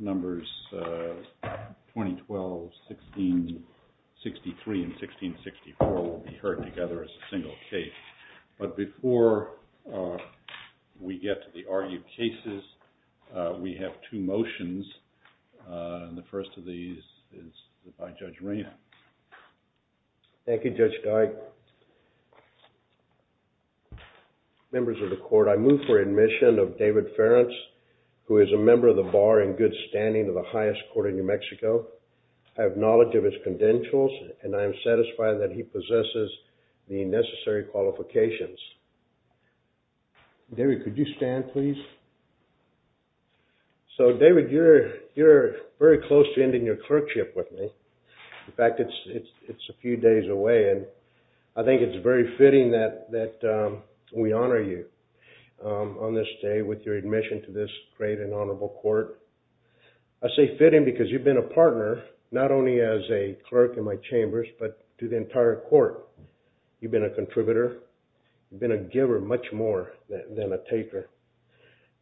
numbers 2012, 1663, and 1664 will be heard together as a single case. But before we get to the argued cases, we have two motions. The first of these is by Judge Rehn. Thank you, Judge Geig. Members of the court, I move for admission of David Ferentz, who is a member of the bar in good standing of the highest court in New Mexico. I have knowledge of his credentials and I am satisfied that he possesses the necessary qualifications. David, could you stand, please? So, David, you're very close to ending your clerkship with me. In fact, it's a few days away and I think it's very fitting that we honor you on this day with your admission to this great and honorable court. I say fitting because you've been a partner, not only as a clerk in my chambers, but to the entire court. You've been a contributor. You've been a giver much more than a taker.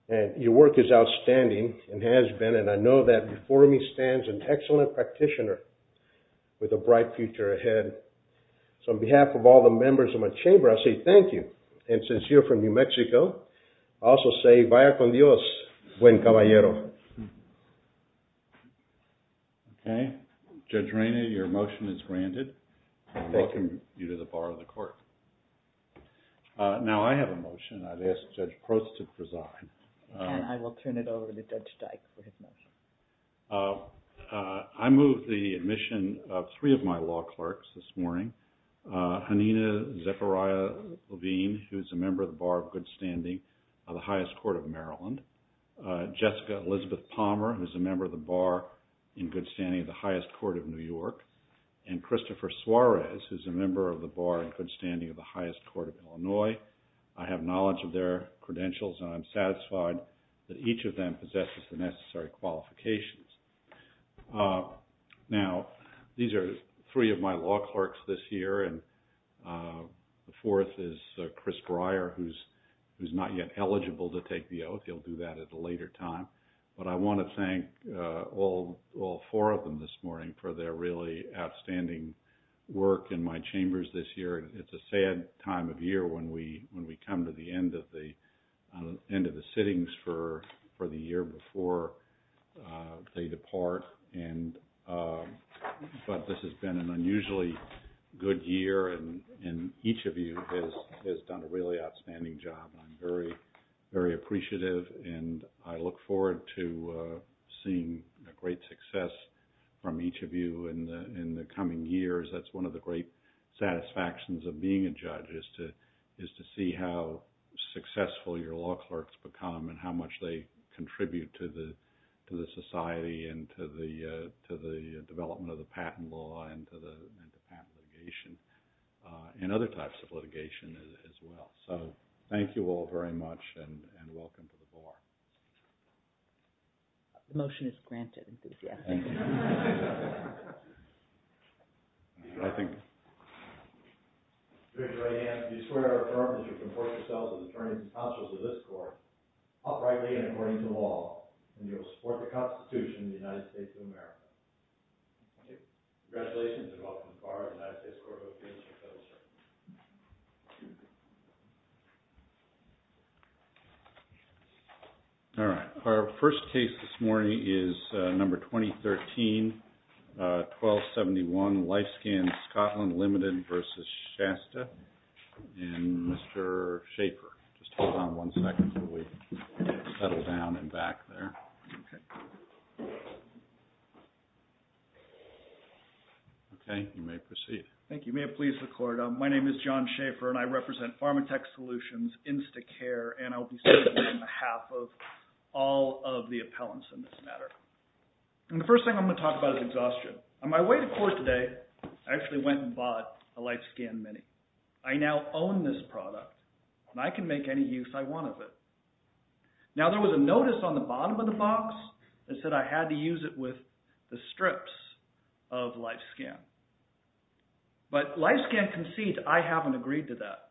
And your work is outstanding and has been, and I know that before me stands an excellent practitioner with a bright future ahead. So, on behalf of all the members of my chamber, I say thank you. And since you're from New Mexico, I also say vaya con Dios, buen caballero. Okay, Judge Rehn, your motion is granted. I welcome you to the bar of the court. Now, I have a motion. I'd ask Judge Prost to preside. And I will turn it over to Judge Dyke for his motion. I move the admission of three of my law clerks this morning. Hanina Zechariah Levine, who's a member of the bar of good standing of the highest court of Maryland. Jessica Elizabeth Palmer, who's a member of the bar in good standing of the highest court of New York. And Christopher Suarez, who's a member of the bar in good standing of the highest court of Illinois. I have knowledge of their credentials, and I'm satisfied that each of them possesses the necessary qualifications. Now, these are three of my law clerks this year, and the fourth is Chris Breyer, who's not yet eligible to take the oath. He'll do that at a later time. But I want to thank all four of them this morning for their really outstanding work in my chambers this year. It's a sad time of year when we come to the end of the sittings for the year before they depart. But this has been an unusually good year, and each of you has done a really outstanding job. I'm very appreciative, and I look forward to seeing great success from each of you in the coming years. That's one of the great satisfactions of being a judge is to see how successful your law clerks become and how much they contribute to the society and to the development of the patent law and to the patent litigation and other types of litigation as well. So thank you all very much, and welcome to the bar. The motion is granted, Enthusiastic. Congratulations, and welcome to the bar of the United States Court of Appeals. All right. Our first case this morning is number 2013-1271, Lifescan Scotland Ltd. v. Shasta and Mr. Schaefer. Just hold on one second while we settle down and back there. Okay, you may proceed. Thank you. May it please the court. My name is John Schaefer, and I represent Pharmatech Solutions Instacare, and I will be speaking on behalf of all of the appellants in this matter. And the first thing I'm going to talk about is exhaustion. On my way to court today, I actually went and bought a Lifescan Mini. I now own this product, and I can make any use I want of it. Now, there was a notice on the bottom of the box that said I had to use it with the strips of Lifescan. But Lifescan concedes I haven't agreed to that,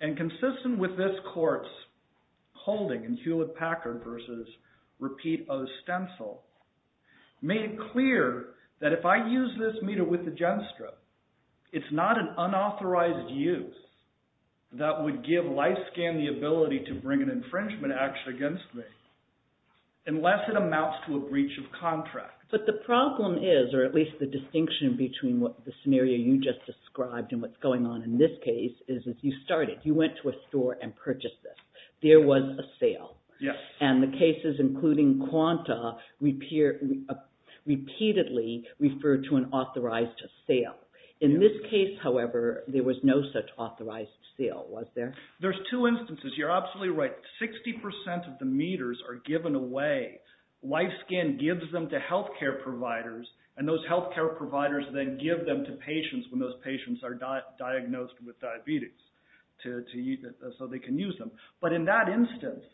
and consistent with this court's holding in Hewlett-Packard v. Repeat O. Stencil, made it clear that if I use this meter with the GenStrip, it's not an unauthorized use that would give Lifescan the ability to bring an infringement action against me unless it amounts to a breach of contract. But the problem is, or at least the distinction between the scenario you just described and what's going on in this case, is as you started, you went to a store and purchased this. There was a sale. Yes. And the cases, including Quanta, repeatedly referred to an authorized sale. In this case, however, there was no such authorized sale, was there? There's two instances. You're absolutely right. 60% of the meters are given away. Lifescan gives them to healthcare providers, and those healthcare providers then give them to patients when those patients are diagnosed with diabetes so they can use them. But in that instance,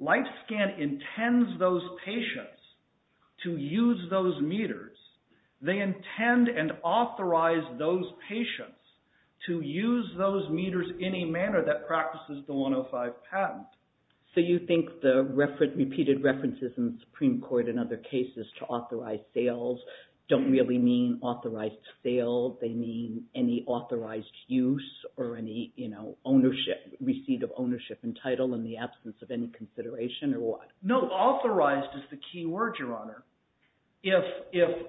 Lifescan intends those patients to use those meters. They intend and authorize those patients to use those meters any manner that practices the 105 patent. So you think the repeated references in the Supreme Court and other cases to authorized sales don't really mean authorized sale. They mean any authorized use or any ownership, receipt of ownership and title in the absence of any consideration or what? No, authorized is the key word, Your Honor. If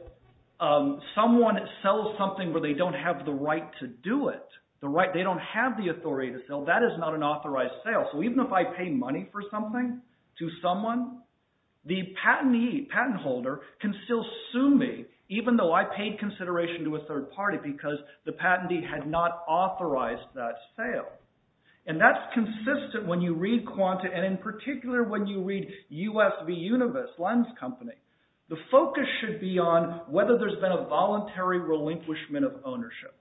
someone sells something where they don't have the right to do it, they don't have the authority to sell, that is not an authorized sale. So even if I pay money for something to someone, the patentee, patent holder, can still sue me even though I paid consideration to a third party because the patentee had not authorized that sale. And that's consistent when you read Quanta and in particular when you read USV Univis Lens Company. The focus should be on whether there's been a voluntary relinquishment of ownership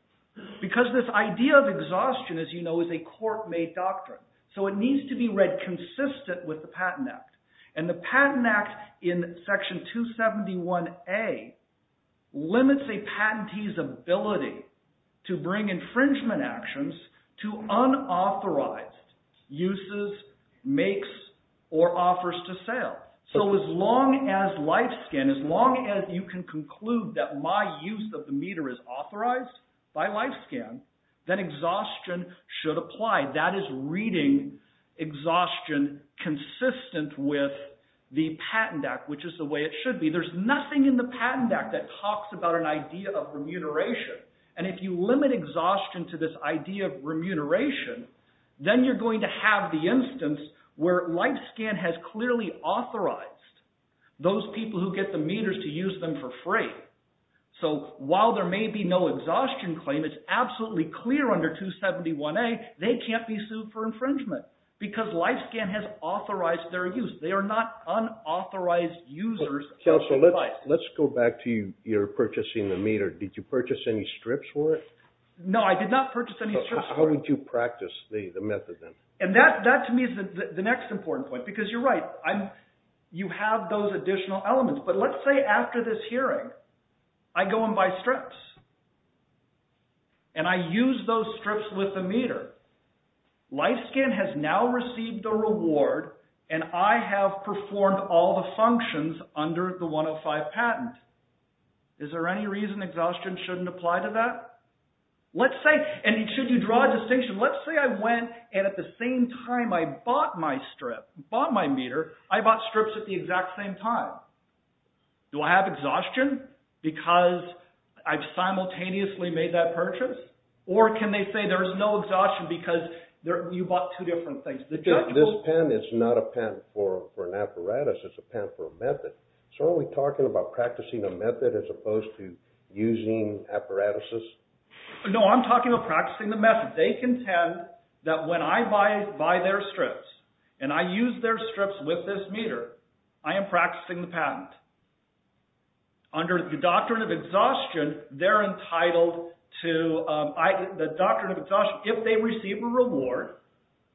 because this idea of exhaustion, as you know, is a court-made doctrine. So it needs to be read consistent with the Patent Act. And the Patent Act in Section 271A limits a patentee's ability to bring infringement actions to unauthorized uses, makes, or offers to sale. So as long as life scan, as long as you can conclude that my use of the meter is authorized by life scan, then exhaustion should apply. That is reading exhaustion consistent with the Patent Act, which is the way it should be. There's nothing in the Patent Act that talks about an idea of remuneration. And if you limit exhaustion to this idea of remuneration, then you're going to have the instance where life scan has clearly authorized those people who get the meters to use them for free. So while there may be no exhaustion claim, it's absolutely clear under 271A they can't be sued for infringement because life scan has authorized their use. They are not unauthorized users of the device. Counselor, let's go back to your purchasing the meter. Did you purchase any strips for it? No, I did not purchase any strips for it. How did you practice the method then? And that to me is the next important point because you're right. You have those additional elements. But let's say after this hearing, I go and buy strips and I use those strips with the meter. Life scan has now received a reward and I have performed all the functions under the 105 patent. Is there any reason exhaustion shouldn't apply to that? And should you draw a distinction? Let's say I went and at the same time I bought my strip, bought my meter, I bought strips at the exact same time. Do I have exhaustion because I simultaneously made that purchase? Or can they say there's no exhaustion because you bought two different things? This patent is not a patent for an apparatus. It's a patent for a method. So are we talking about practicing a method as opposed to using apparatuses? No, I'm talking about practicing the method. They contend that when I buy their strips and I use their strips with this meter, I am practicing the patent. Under the doctrine of exhaustion, they're entitled to, the doctrine of exhaustion, if they receive a reward,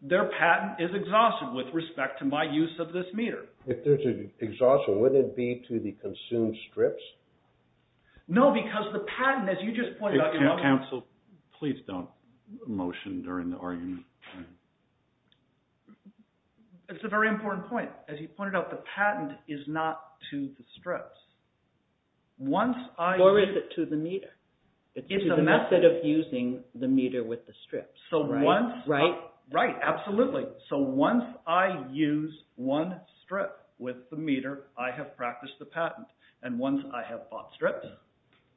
their patent is exhausted with respect to my use of this meter. If there's an exhaustion, would it be to the consumed strips? No, because the patent, as you just pointed out. Counsel, please don't motion during the argument. It's a very important point. As you pointed out, the patent is not to the strips. Or is it to the meter? It's to the method of using the meter with the strips. Right, absolutely. So once I use one strip with the meter, I have practiced the patent. And once I have bought strips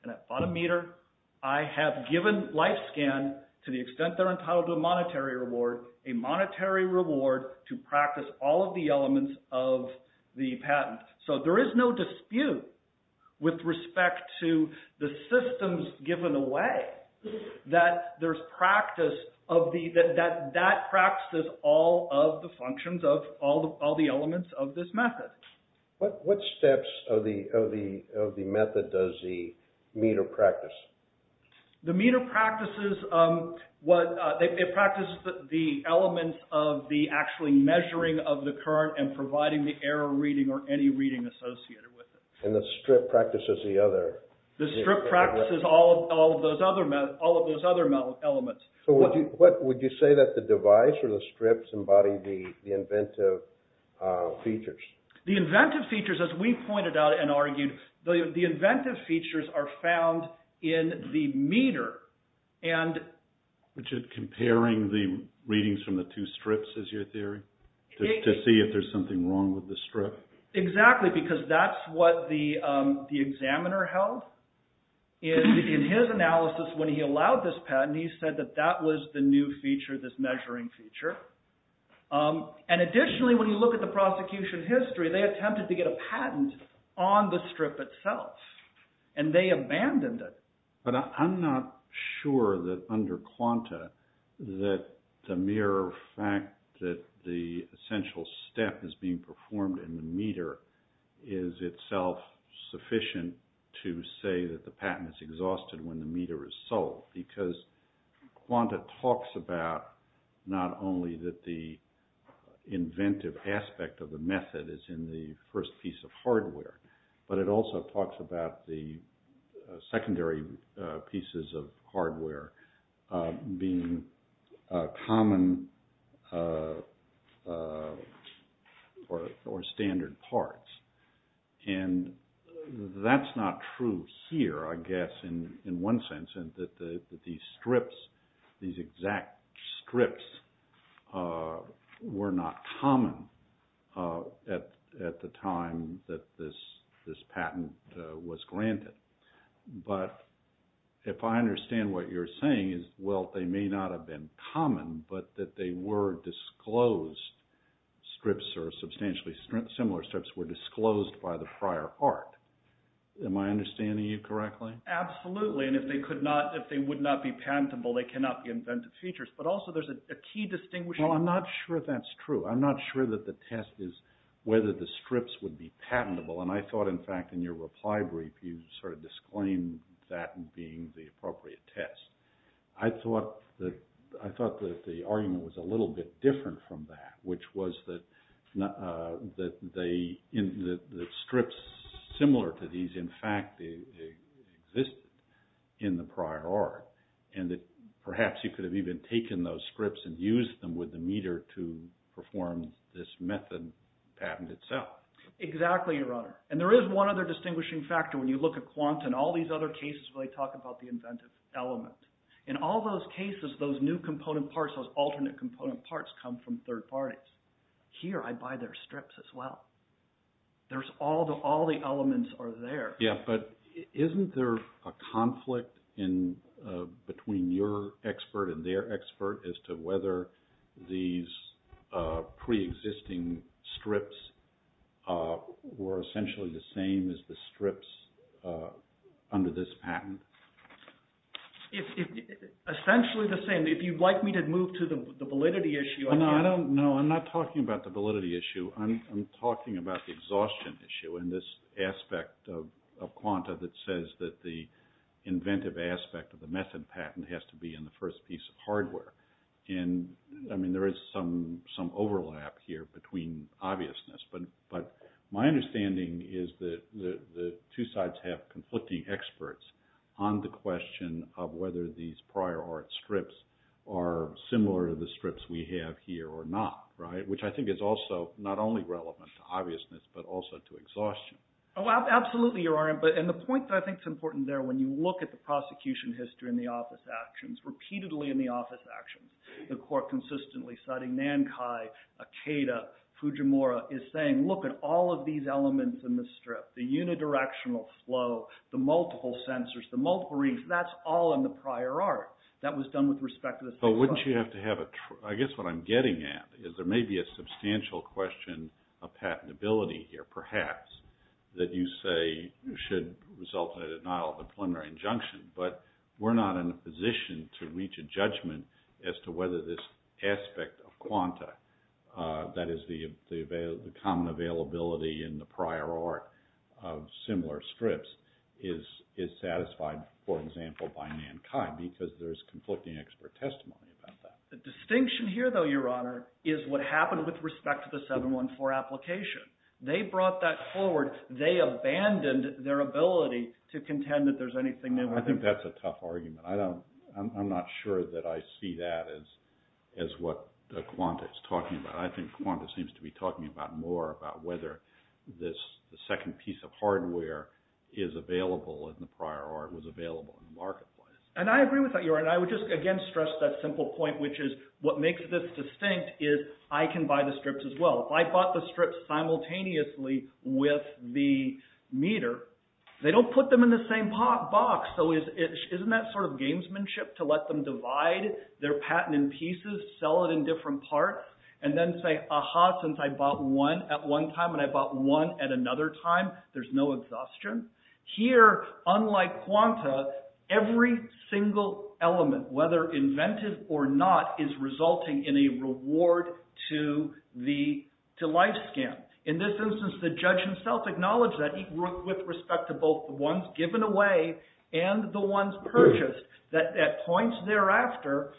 and I've bought a meter, I have given LifeScan, to the extent they're entitled to a monetary reward, a monetary reward to practice all of the elements of the patent. So there is no dispute with respect to the systems given away that there's practice of the – that that practices all of the functions of all the elements of this method. What steps of the method does the meter practice? The meter practices what – it practices the elements of the actually measuring of the current and providing the error reading or any reading associated with it. And the strip practices the other – The strip practices all of those other elements. So would you say that the device or the strips embody the inventive features? The inventive features, as we pointed out and argued, the inventive features are found in the meter. Which is comparing the readings from the two strips is your theory? To see if there's something wrong with the strip? Exactly, because that's what the examiner held in his analysis when he allowed this patent. He said that that was the new feature, this measuring feature. And additionally, when you look at the prosecution history, they attempted to get a patent on the strip itself. And they abandoned it. But I'm not sure that under Quanta that the mere fact that the essential step is being performed in the meter is itself sufficient to say that the patent is exhausted when the meter is sold. Because Quanta talks about not only that the inventive aspect of the method is in the first piece of hardware, but it also talks about the secondary pieces of hardware being common or standard parts. And that's not true here, I guess, in one sense. And that these strips, these exact strips, were not common at the time that this patent was granted. But if I understand what you're saying is, well, they may not have been common, but that they were disclosed strips or substantially similar strips were disclosed by the prior art. Am I understanding you correctly? Absolutely. And if they would not be patentable, they cannot be inventive features. But also, there's a key distinguishing… Well, I'm not sure that's true. I'm not sure that the test is whether the strips would be patentable. And I thought, in fact, in your reply brief, you sort of disclaimed that being the appropriate test. I thought that the argument was a little bit different from that, which was that the strips similar to these, in fact, existed in the prior art. And that perhaps you could have even taken those strips and used them with the meter to perform this method patent itself. Exactly, Your Honor. And there is one other distinguishing factor when you look at Quant and all these other cases where they talk about the inventive element. In all those cases, those new component parts, those alternate component parts come from third parties. Here, I buy their strips as well. There's all the elements are there. Yeah, but isn't there a conflict between your expert and their expert as to whether these preexisting strips were essentially the same as the strips under this patent? Essentially the same. If you'd like me to move to the validity issue… No, I don't. No, I'm not talking about the validity issue. I'm talking about the exhaustion issue in this aspect of Quanta that says that the inventive aspect of the method patent has to be in the first piece of hardware. And, I mean, there is some overlap here between obviousness. But my understanding is that the two sides have conflicting experts on the question of whether these prior art strips are similar to the strips we have here or not, right? Which I think is also not only relevant to obviousness but also to exhaustion. Oh, absolutely, Your Honor. And the point that I think is important there, when you look at the prosecution history and the office actions, repeatedly in the office actions, the court consistently citing Nankai, Akeda, Fujimura, is saying, look at all of these elements in this strip. The unidirectional flow, the multiple sensors, the multiple rings, that's all in the prior art. That was done with respect to the… But wouldn't you have to have a – I guess what I'm getting at is there may be a substantial question of patentability here, perhaps, that you say should result in a denial of a preliminary injunction. But we're not in a position to reach a judgment as to whether this aspect of quanta, that is the common availability in the prior art of similar strips, is satisfied, for example, by Nankai because there's conflicting expert testimony about that. The distinction here, though, Your Honor, is what happened with respect to the 714 application. They brought that forward. They abandoned their ability to contend that there's anything there. I think that's a tough argument. I don't – I'm not sure that I see that as what the quanta is talking about. I think quanta seems to be talking about more about whether this second piece of hardware is available in the prior art, was available in the marketplace. And I agree with that, Your Honor. And I would just, again, stress that simple point, which is what makes this distinct is I can buy the strips as well. If I bought the strips simultaneously with the meter, they don't put them in the same box. So isn't that sort of gamesmanship to let them divide their patent in pieces, sell it in different parts, and then say, aha, since I bought one at one time and I bought one at another time, there's no exhaustion? Here, unlike quanta, every single element, whether inventive or not, is resulting in a reward to the – to life scam. In this instance, the judge himself acknowledged that with respect to both the ones given away and the ones purchased, that at points thereafter,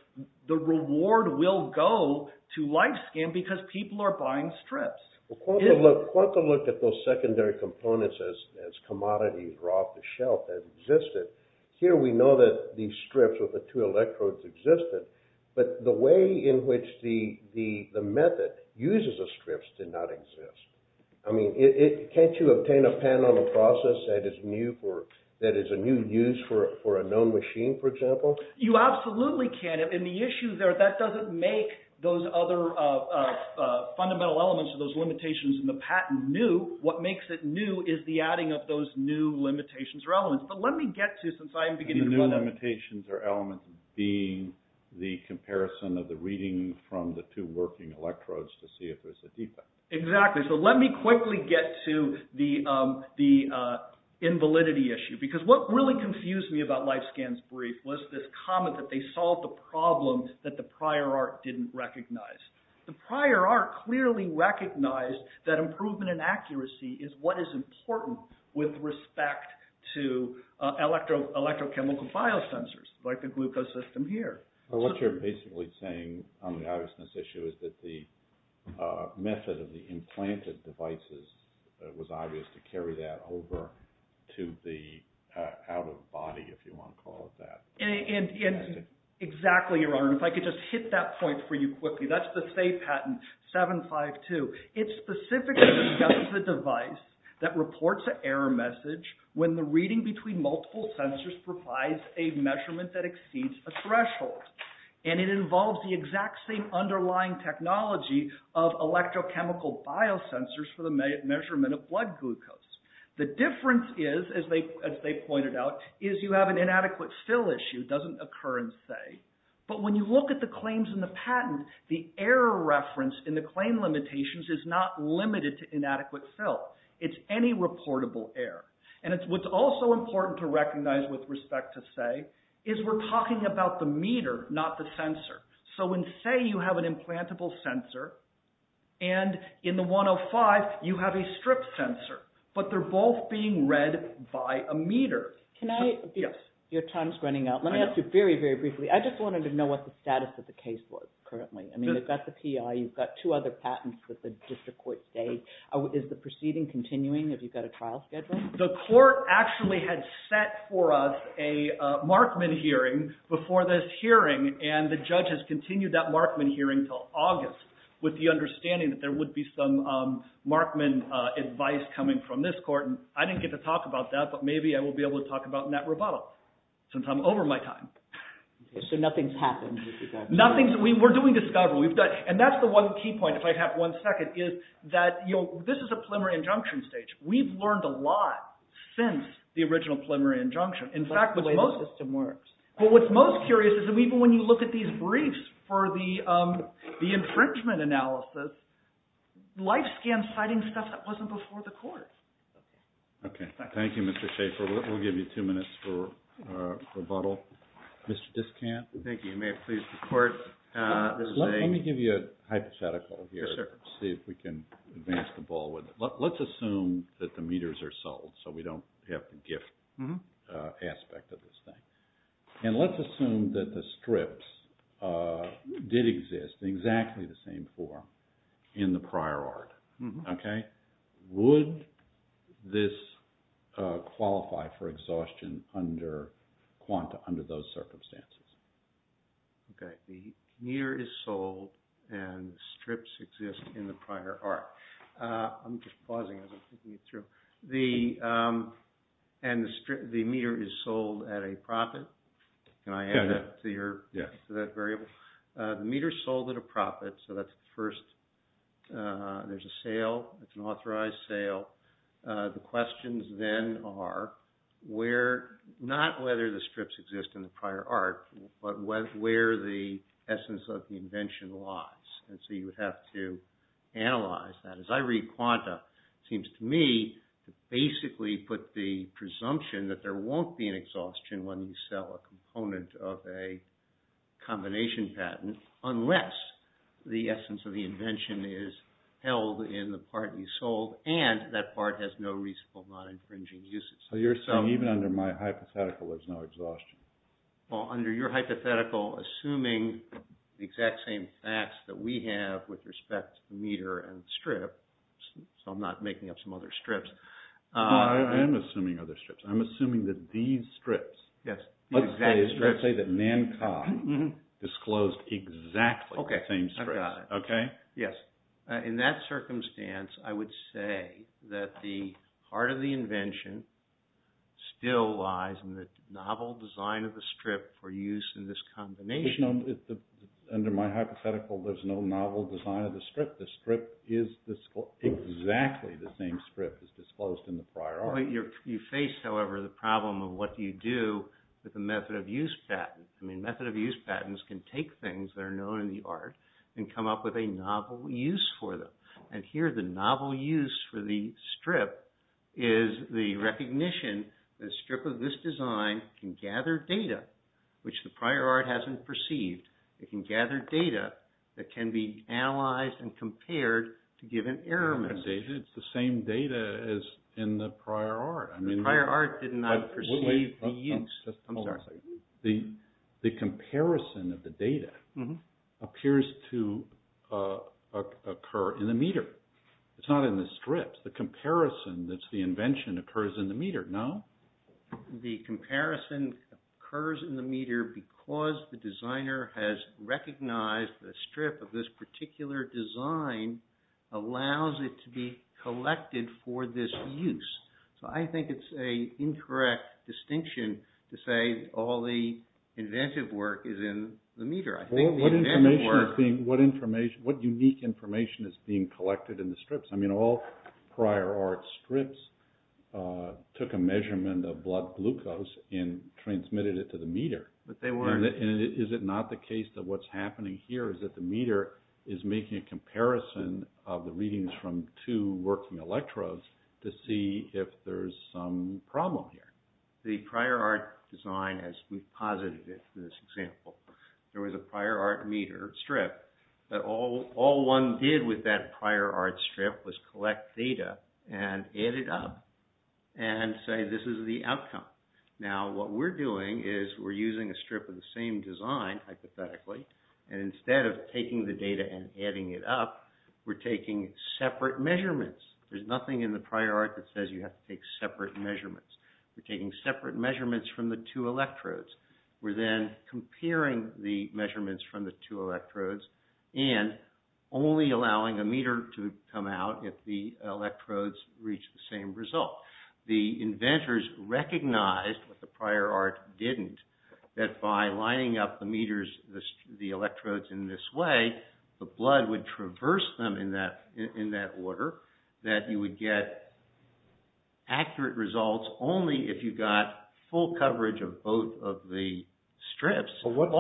the reward will go to life scam because people are buying strips. Well, quanta looked at those secondary components as commodities or off-the-shelf that existed. Here we know that these strips with the two electrodes existed, but the way in which the method uses the strips did not exist. I mean, can't you obtain a patent on a process that is new for – that is a new use for a known machine, for example? You absolutely can. And the issue there, that doesn't make those other fundamental elements of those limitations in the patent new. What makes it new is the adding of those new limitations or elements. But let me get to, since I am beginning to run out – The new limitations or elements being the comparison of the reading from the two working electrodes to see if there's a defect. Exactly. So let me quickly get to the invalidity issue because what really confused me about LifeScan's brief was this comment that they solved the problem that the prior art didn't recognize. The prior art clearly recognized that improvement in accuracy is what is important with respect to electrochemical biosensors like the glucose system here. What you're basically saying on the obviousness issue is that the method of the implanted devices was obvious to carry that over to the out-of-body, if you want to call it that. Exactly, Your Honor. If I could just hit that point for you quickly. That's the FAY patent 752. It specifically discusses a device that reports an error message when the reading between multiple sensors provides a measurement that exceeds a threshold. And it involves the exact same underlying technology of electrochemical biosensors for the measurement of blood glucose. The difference is, as they pointed out, is you have an inadequate fill issue. It doesn't occur in FAY. But when you look at the claims in the patent, the error reference in the claim limitations is not limited to inadequate fill. It's any reportable error. And what's also important to recognize with respect to FAY is we're talking about the meter, not the sensor. So in FAY, you have an implantable sensor. And in the 105, you have a stripped sensor. But they're both being read by a meter. Can I? Yes. Your time's running out. Let me ask you very, very briefly. I just wanted to know what the status of the case was currently. I mean, you've got the PI. You've got two other patents that the district court stayed. Is the proceeding continuing? Have you got a trial schedule? The court actually had set for us a Markman hearing before this hearing. And the judge has continued that Markman hearing until August with the understanding that there would be some Markman advice coming from this court. And I didn't get to talk about that. But maybe I will be able to talk about it in that rebuttal since I'm over my time. So nothing's happened? Nothing. We're doing discovery. And that's the one key point, if I have one second, is that this is a preliminary injunction stage. We've learned a lot since the original preliminary injunction. In fact, the way the system works. But what's most curious is that even when you look at these briefs for the infringement analysis, life scans, citing stuff that wasn't before the court. Okay. Thank you, Mr. Schaefer. We'll give you two minutes for rebuttal. Mr. Discant. Thank you. May it please the court. Let me give you a hypothetical here. Yes, sir. See if we can advance the ball with it. Let's assume that the meters are sold so we don't have the gift aspect of this thing. And let's assume that the strips did exist in exactly the same form in the prior art. Okay. Would this qualify for exhaustion under quanta under those circumstances? Okay. The meter is sold and strips exist in the prior art. I'm just pausing as I'm thinking it through. And the meter is sold at a profit. Can I add that to that variable? The meter is sold at a profit. So that's the first. There's a sale. It's an authorized sale. The questions then are not whether the strips exist in the prior art, but where the essence of the invention lies. And so you would have to analyze that. As I read quanta, it seems to me to basically put the presumption that there won't be an exhaustion when you sell a component of a combination patent, unless the essence of the invention is held in the part you sold and that part has no reasonable non-infringing uses. So you're saying even under my hypothetical, there's no exhaustion? Well, under your hypothetical, assuming the exact same facts that we have with respect to meter and strip. So I'm not making up some other strips. I am assuming other strips. I'm assuming that these strips. Yes. Let's say that Nancar disclosed exactly the same strips. Okay. I've got it. Okay? Yes. In that circumstance, I would say that the heart of the invention still lies in the novel design of the strip for use in this combination. Under my hypothetical, there's no novel design of the strip. The strip is exactly the same strip as disclosed in the prior art. You face, however, the problem of what do you do with the method of use patent. I mean, method of use patents can take things that are known in the art and come up with a novel use for them. And here, the novel use for the strip is the recognition that a strip of this design can gather data which the prior art hasn't perceived. It can gather data that can be analyzed and compared to give an error message. It's the same data as in the prior art. The prior art did not perceive the use. I'm sorry. The comparison of the data appears to occur in the meter. It's not in the strips. The comparison that's the invention occurs in the meter, no? The comparison occurs in the meter because the designer has recognized the strip of this particular design allows it to be collected for this use. So I think it's an incorrect distinction to say all the inventive work is in the meter. I think the inventive work… Well, what unique information is being collected in the strips? I mean, all prior art strips took a measurement of blood glucose and transmitted it to the meter. But they weren't. And is it not the case that what's happening here is that the meter is making a comparison of the readings from two working electrodes to see if there's some problem here? The prior art design, as we posited it in this example, there was a prior art meter strip. But all one did with that prior art strip was collect data and add it up and say this is the outcome. Now, what we're doing is we're using a strip of the same design, hypothetically, and instead of taking the data and adding it up, we're taking separate measurements. There's nothing in the prior art that says you have to take separate measurements. We're taking separate measurements from the two electrodes. We're then comparing the measurements from the two electrodes and only allowing a meter to come out if the electrodes reach the same result. The inventors recognized what the prior art didn't. That by lining up the meters, the electrodes in this way, the blood would traverse them in that order. That you would get accurate results only if you got full coverage of both of the strips. What's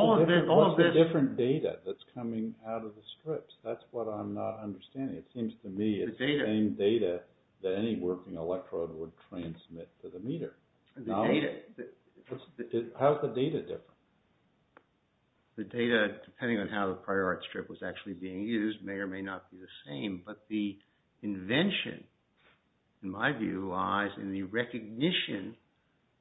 the different data that's coming out of the strips? That's what I'm not understanding. It seems to me it's the same data that any working electrode would transmit to the meter. How is the data different? The data, depending on how the prior art strip was actually being used, may or may not be the same. But the invention, in my view, lies in the recognition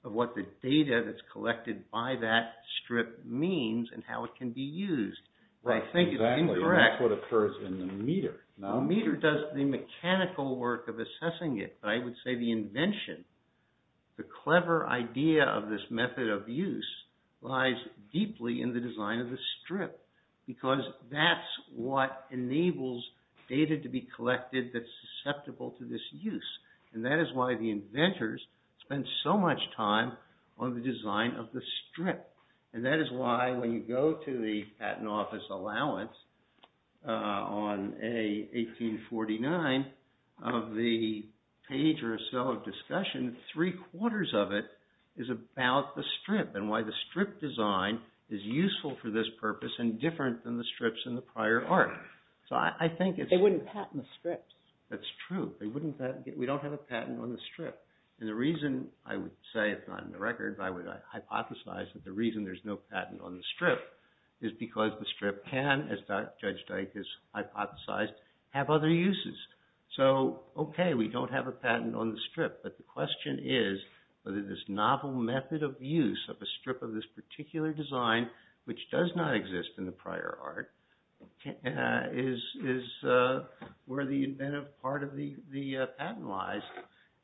of what the data that's collected by that strip means and how it can be used. I think it's incorrect. That's what occurs in the meter. The meter does the mechanical work of assessing it. But I would say the invention, the clever idea of this method of use, lies deeply in the design of the strip. Because that's what enables data to be collected that's susceptible to this use. And that is why the inventors spend so much time on the design of the strip. And that is why, when you go to the Patent Office allowance on 1849, of the page or so of discussion, three quarters of it is about the strip. And why the strip design is useful for this purpose and different than the strips in the prior art. They wouldn't patent the strips. That's true. We don't have a patent on the strip. And the reason I would say, if not in the record, I would hypothesize that the reason there's no patent on the strip is because the strip can, as Judge Dyke has hypothesized, have other uses. So, okay, we don't have a patent on the strip. But the question is whether this novel method of use of a strip of this particular design, which does not exist in the prior art, is where the inventive part of the patent lies.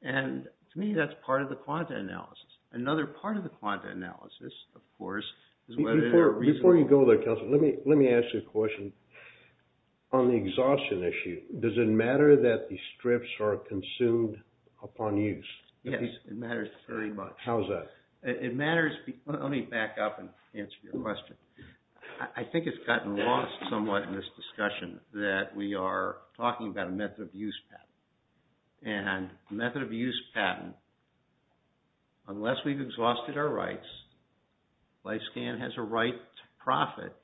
And, to me, that's part of the quanta analysis. Another part of the quanta analysis, of course, is whether there are reasonable... Before you go there, Counselor, let me ask you a question. On the exhaustion issue, does it matter that the strips are consumed upon use? Yes, it matters very much. How's that? It matters... Let me back up and answer your question. I think it's gotten lost somewhat in this discussion that we are talking about a method of use patent. And a method of use patent, unless we've exhausted our rights, LifeScan has a right to profit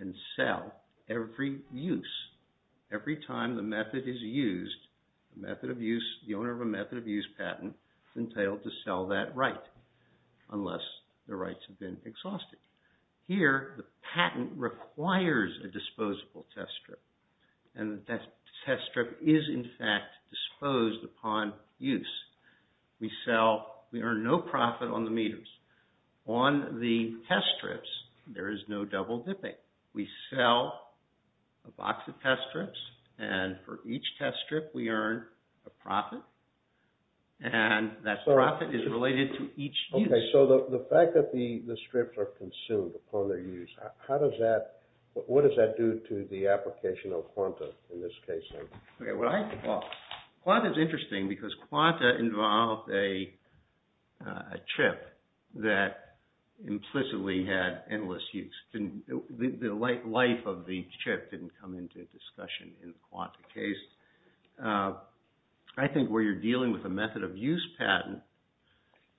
and sell every use. Every time the method is used, the method of use, the owner of a method of use patent is entitled to sell that right, unless the rights have been exhausted. Here, the patent requires a disposable test strip. And that test strip is, in fact, disposed upon use. We sell... We earn no profit on the meters. On the test strips, there is no double dipping. We sell a box of test strips, and for each test strip, we earn a profit. And that profit is related to each use. Okay, so the fact that the strips are consumed upon their use, how does that... What does that do to the application of QANTA in this case? Well, QANTA is interesting because QANTA involved a chip that implicitly had endless use. The life of the chip didn't come into discussion in the QANTA case. I think where you're dealing with a method of use patent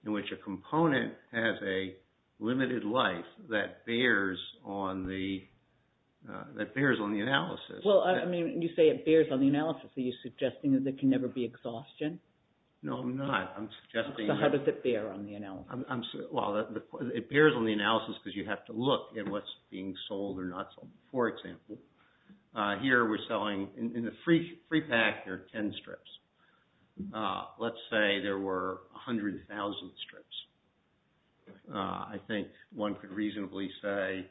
in which a component has a limited life that bears on the analysis... Well, I mean, you say it bears on the analysis. Are you suggesting that there can never be exhaustion? No, I'm not. I'm suggesting... So how does it bear on the analysis? Well, it bears on the analysis because you have to look at what's being sold or not sold. For example, here we're selling... In the free pack, there are 10 strips. Let's say there were 100,000 strips. I think one could reasonably say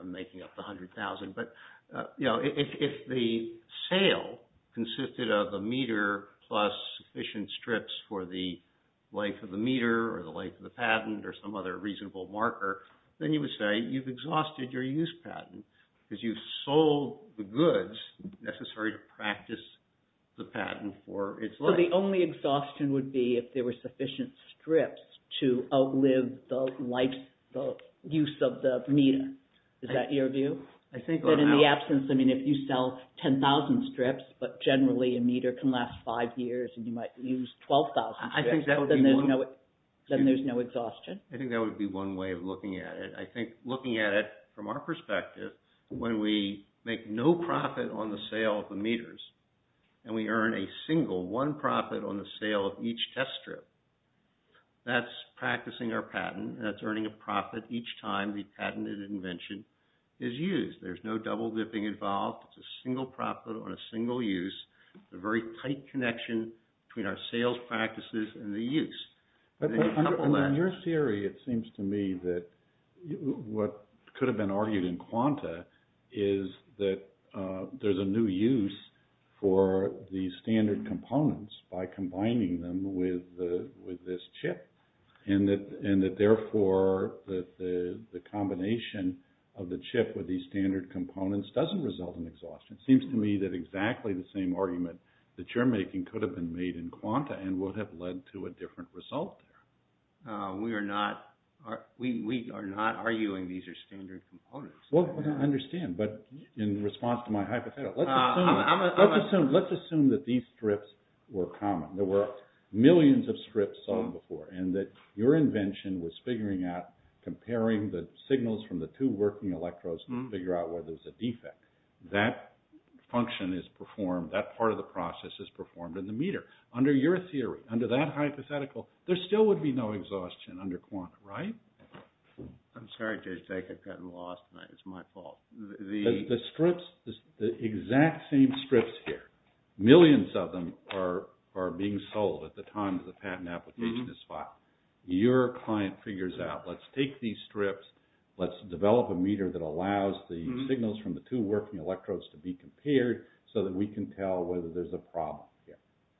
I'm making up the 100,000. But, you know, if the sale consisted of a meter plus sufficient strips for the length of the meter or the length of the patent or some other reasonable marker, then you would say you've exhausted your use patent because you've sold the goods necessary to practice the patent for its life. So the only exhaustion would be if there were sufficient strips to outlive the life, the use of the meter. Is that your view? I think... But in the absence, I mean, if you sell 10,000 strips, but generally a meter can last five years and you might use 12,000 strips... I think that would be one... Then there's no exhaustion. I think that would be one way of looking at it. I think looking at it from our perspective, when we make no profit on the sale of the meters and we earn a single, one profit on the sale of each test strip, that's practicing our patent. That's earning a profit each time the patented invention is used. There's no double-dipping involved. It's a single profit on a single use, a very tight connection between our sales practices and the use. In your theory, it seems to me that what could have been argued in quanta is that there's a new use for the standard components by combining them with this chip. And that therefore the combination of the chip with these standard components doesn't result in exhaustion. It seems to me that exactly the same argument that you're making could have been made in quanta and would have led to a different result there. We are not arguing these are standard components. Well, I understand. But in response to my hypothetical, let's assume that these strips were common. There were millions of strips sold before. And that your invention was figuring out, comparing the signals from the two working electrodes to figure out whether there's a defect. That function is performed. That part of the process is performed in the meter. Under your theory, under that hypothetical, there still would be no exhaustion under quanta, right? I'm sorry, Jake. I've gotten lost. It's my fault. The strips, the exact same strips here, millions of them are being sold at the time the patent application is filed. Your client figures out, let's take these strips. Let's develop a meter that allows the signals from the two working electrodes to be compared so that we can tell whether there's a problem here.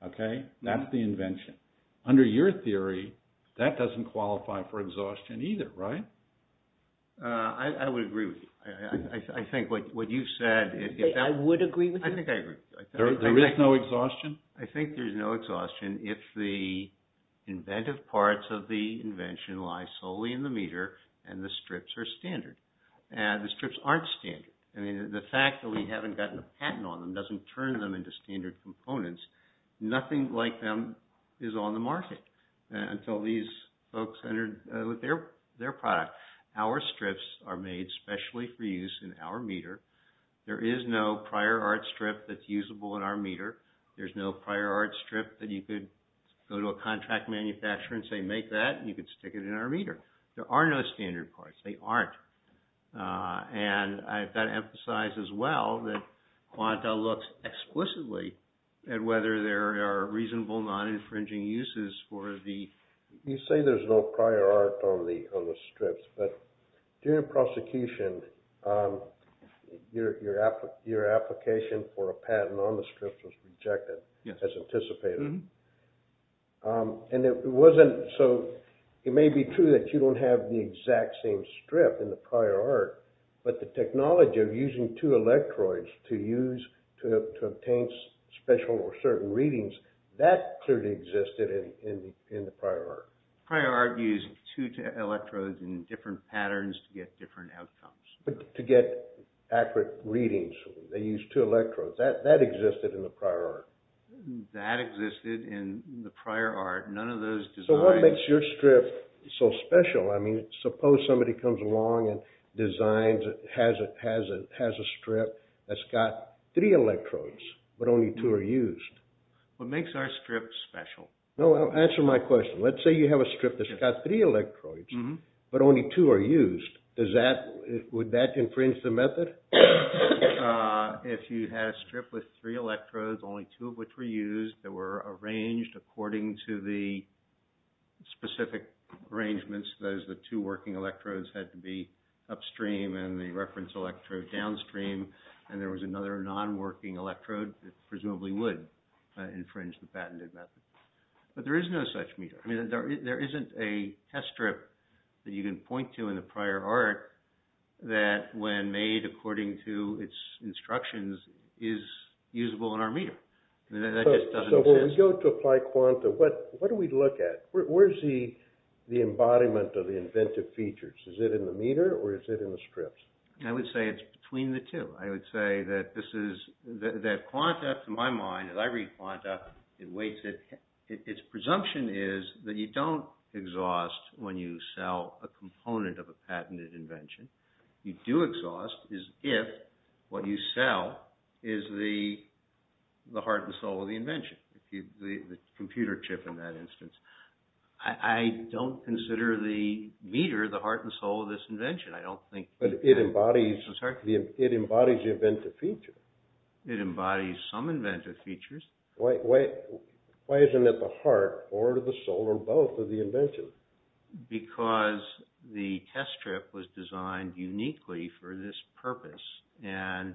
Okay? That's the invention. Under your theory, that doesn't qualify for exhaustion either, right? I would agree with you. I think what you've said, if that… I would agree with you. I think I agree. There is no exhaustion? I think there's no exhaustion if the inventive parts of the invention lie solely in the meter and the strips are standard. The strips aren't standard. I mean, the fact that we haven't gotten a patent on them doesn't turn them into standard components. Nothing like them is on the market until these folks enter with their product. Our strips are made specially for use in our meter. There is no prior art strip that's usable in our meter. There's no prior art strip that you could go to a contract manufacturer and say, make that, and you could stick it in our meter. There are no standard parts. They aren't. And I've got to emphasize as well that Quanta looks explicitly at whether there are reasonable non-infringing uses for the… During the prosecution, your application for a patent on the strip was rejected as anticipated. And it wasn't… So, it may be true that you don't have the exact same strip in the prior art, but the technology of using two electrodes to use to obtain special or certain readings, that clearly existed in the prior art. Prior art used two electrodes in different patterns to get different outcomes. But to get accurate readings, they used two electrodes. That existed in the prior art. That existed in the prior art. None of those designs… So, what makes your strip so special? I mean, suppose somebody comes along and designs, has a strip that's got three electrodes, but only two are used. What makes our strip special? Well, answer my question. Let's say you have a strip that's got three electrodes, but only two are used. Does that… Would that infringe the method? If you had a strip with three electrodes, only two of which were used, that were arranged according to the specific arrangements, that is, the two working electrodes had to be upstream and the reference electrode downstream, and there was another non-working electrode that presumably would infringe the patented method. But there is no such meter. I mean, there isn't a test strip that you can point to in the prior art that, when made according to its instructions, is usable in our meter. That just doesn't make sense. So, when we go to apply quanta, what do we look at? Where's the embodiment of the inventive features? Is it in the meter, or is it in the strips? I would say it's between the two. I would say that this is… That quanta, to my mind, as I read quanta, it weighs it… Its presumption is that you don't exhaust when you sell a component of a patented invention. You do exhaust if what you sell is the heart and soul of the invention, the computer chip in that instance. I don't consider the meter the heart and soul of this invention. I don't think… But it embodies the inventive feature. It embodies some inventive features. Why isn't it the heart or the soul or both of the invention? Because the test strip was designed uniquely for this purpose. And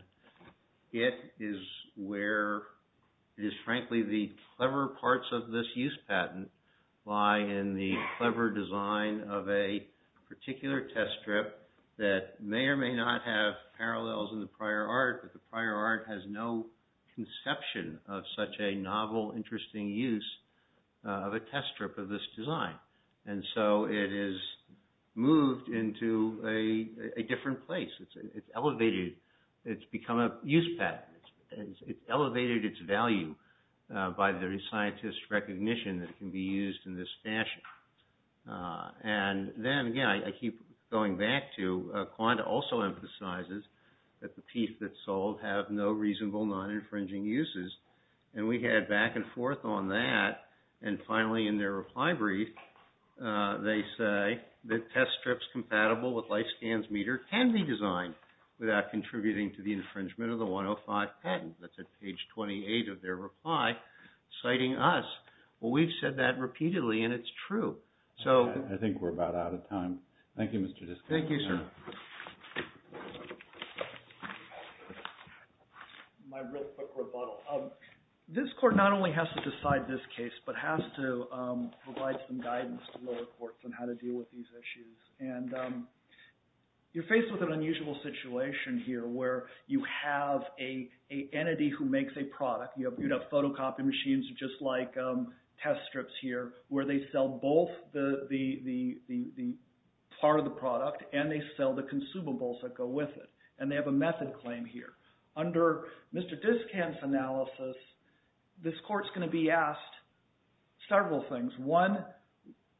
it is where… It is, frankly, the clever parts of this use patent lie in the clever design of a particular test strip that may or may not have parallels in the prior art, but the prior art has no conception of such a novel, interesting use of a test strip of this design. And so, it is moved into a different place. It's elevated. It's become a use patent. It's elevated its value by the scientist's recognition that it can be used in this fashion. And then, again, I keep going back to quanta also emphasizes that the piece that's sold have no reasonable non-infringing uses. And we had back and forth on that. And finally, in their reply brief, they say that test strips compatible with life scans meter can be designed without contributing to the infringement of the 105 patent. That's at page 28 of their reply, citing us. Well, we've said that repeatedly, and it's true. So… I think we're about out of time. Thank you, Mr. Diskett. Thank you, sir. My real quick rebuttal. This court not only has to decide this case, but has to provide some guidance to lower courts on how to deal with these issues. And you're faced with an unusual situation here where you have an entity who makes a product. You have photocopy machines just like test strips here where they sell both the part of the product and they sell the consumables that go with it, and they have a method claim here. Under Mr. Diskett's analysis, this court's going to be asked several things. One,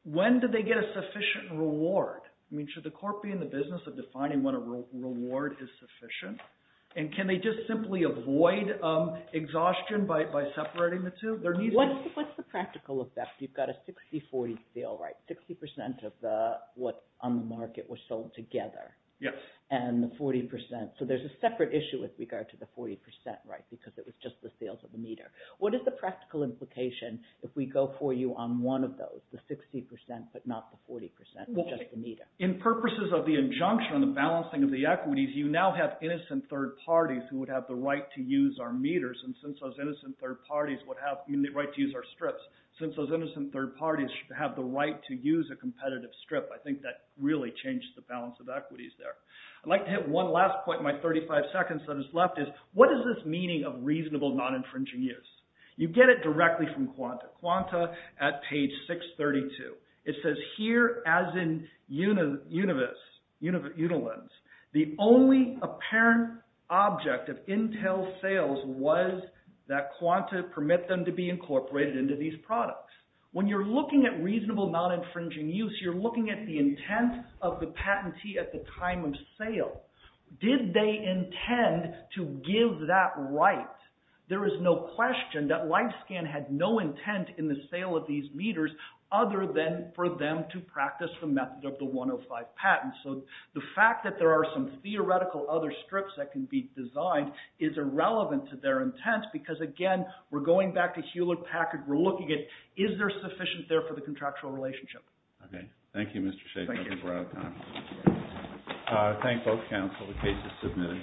when do they get a sufficient reward? I mean, should the court be in the business of defining when a reward is sufficient? And can they just simply avoid exhaustion by separating the two? What's the practical effect? You've got a 60-40 sale, right? 60% of what's on the market was sold together. Yes. And the 40%, so there's a separate issue with regard to the 40%, right, because it was just the sales of the meter. What is the practical implication if we go for you on one of those, the 60% but not the 40%, just the meter? In purposes of the injunction on the balancing of the equities, you now have innocent third parties who would have the right to use our meters. And since those innocent third parties would have the right to use our strips, since those innocent third parties should have the right to use a competitive strip, I think that really changes the balance of equities there. I'd like to hit one last point in my 35 seconds that is left is what is this meaning of reasonable non-infringing use? You get it directly from Quanta, Quanta at page 632. It says, here as in Unilens, the only apparent object of Intel sales was that Quanta permit them to be incorporated into these products. When you're looking at reasonable non-infringing use, you're looking at the intent of the patentee at the time of sale. Did they intend to give that right? There is no question that LifeScan had no intent in the sale of these meters other than for them to practice the method of the 105 patent. So the fact that there are some theoretical other strips that can be designed is irrelevant to their intent because, again, we're going back to Hewlett Packard. We're looking at is there sufficient there for the contractual relationship. Okay. Thank you, Mr. Shaffer. Thank you. Thank both counsel. The case is submitted.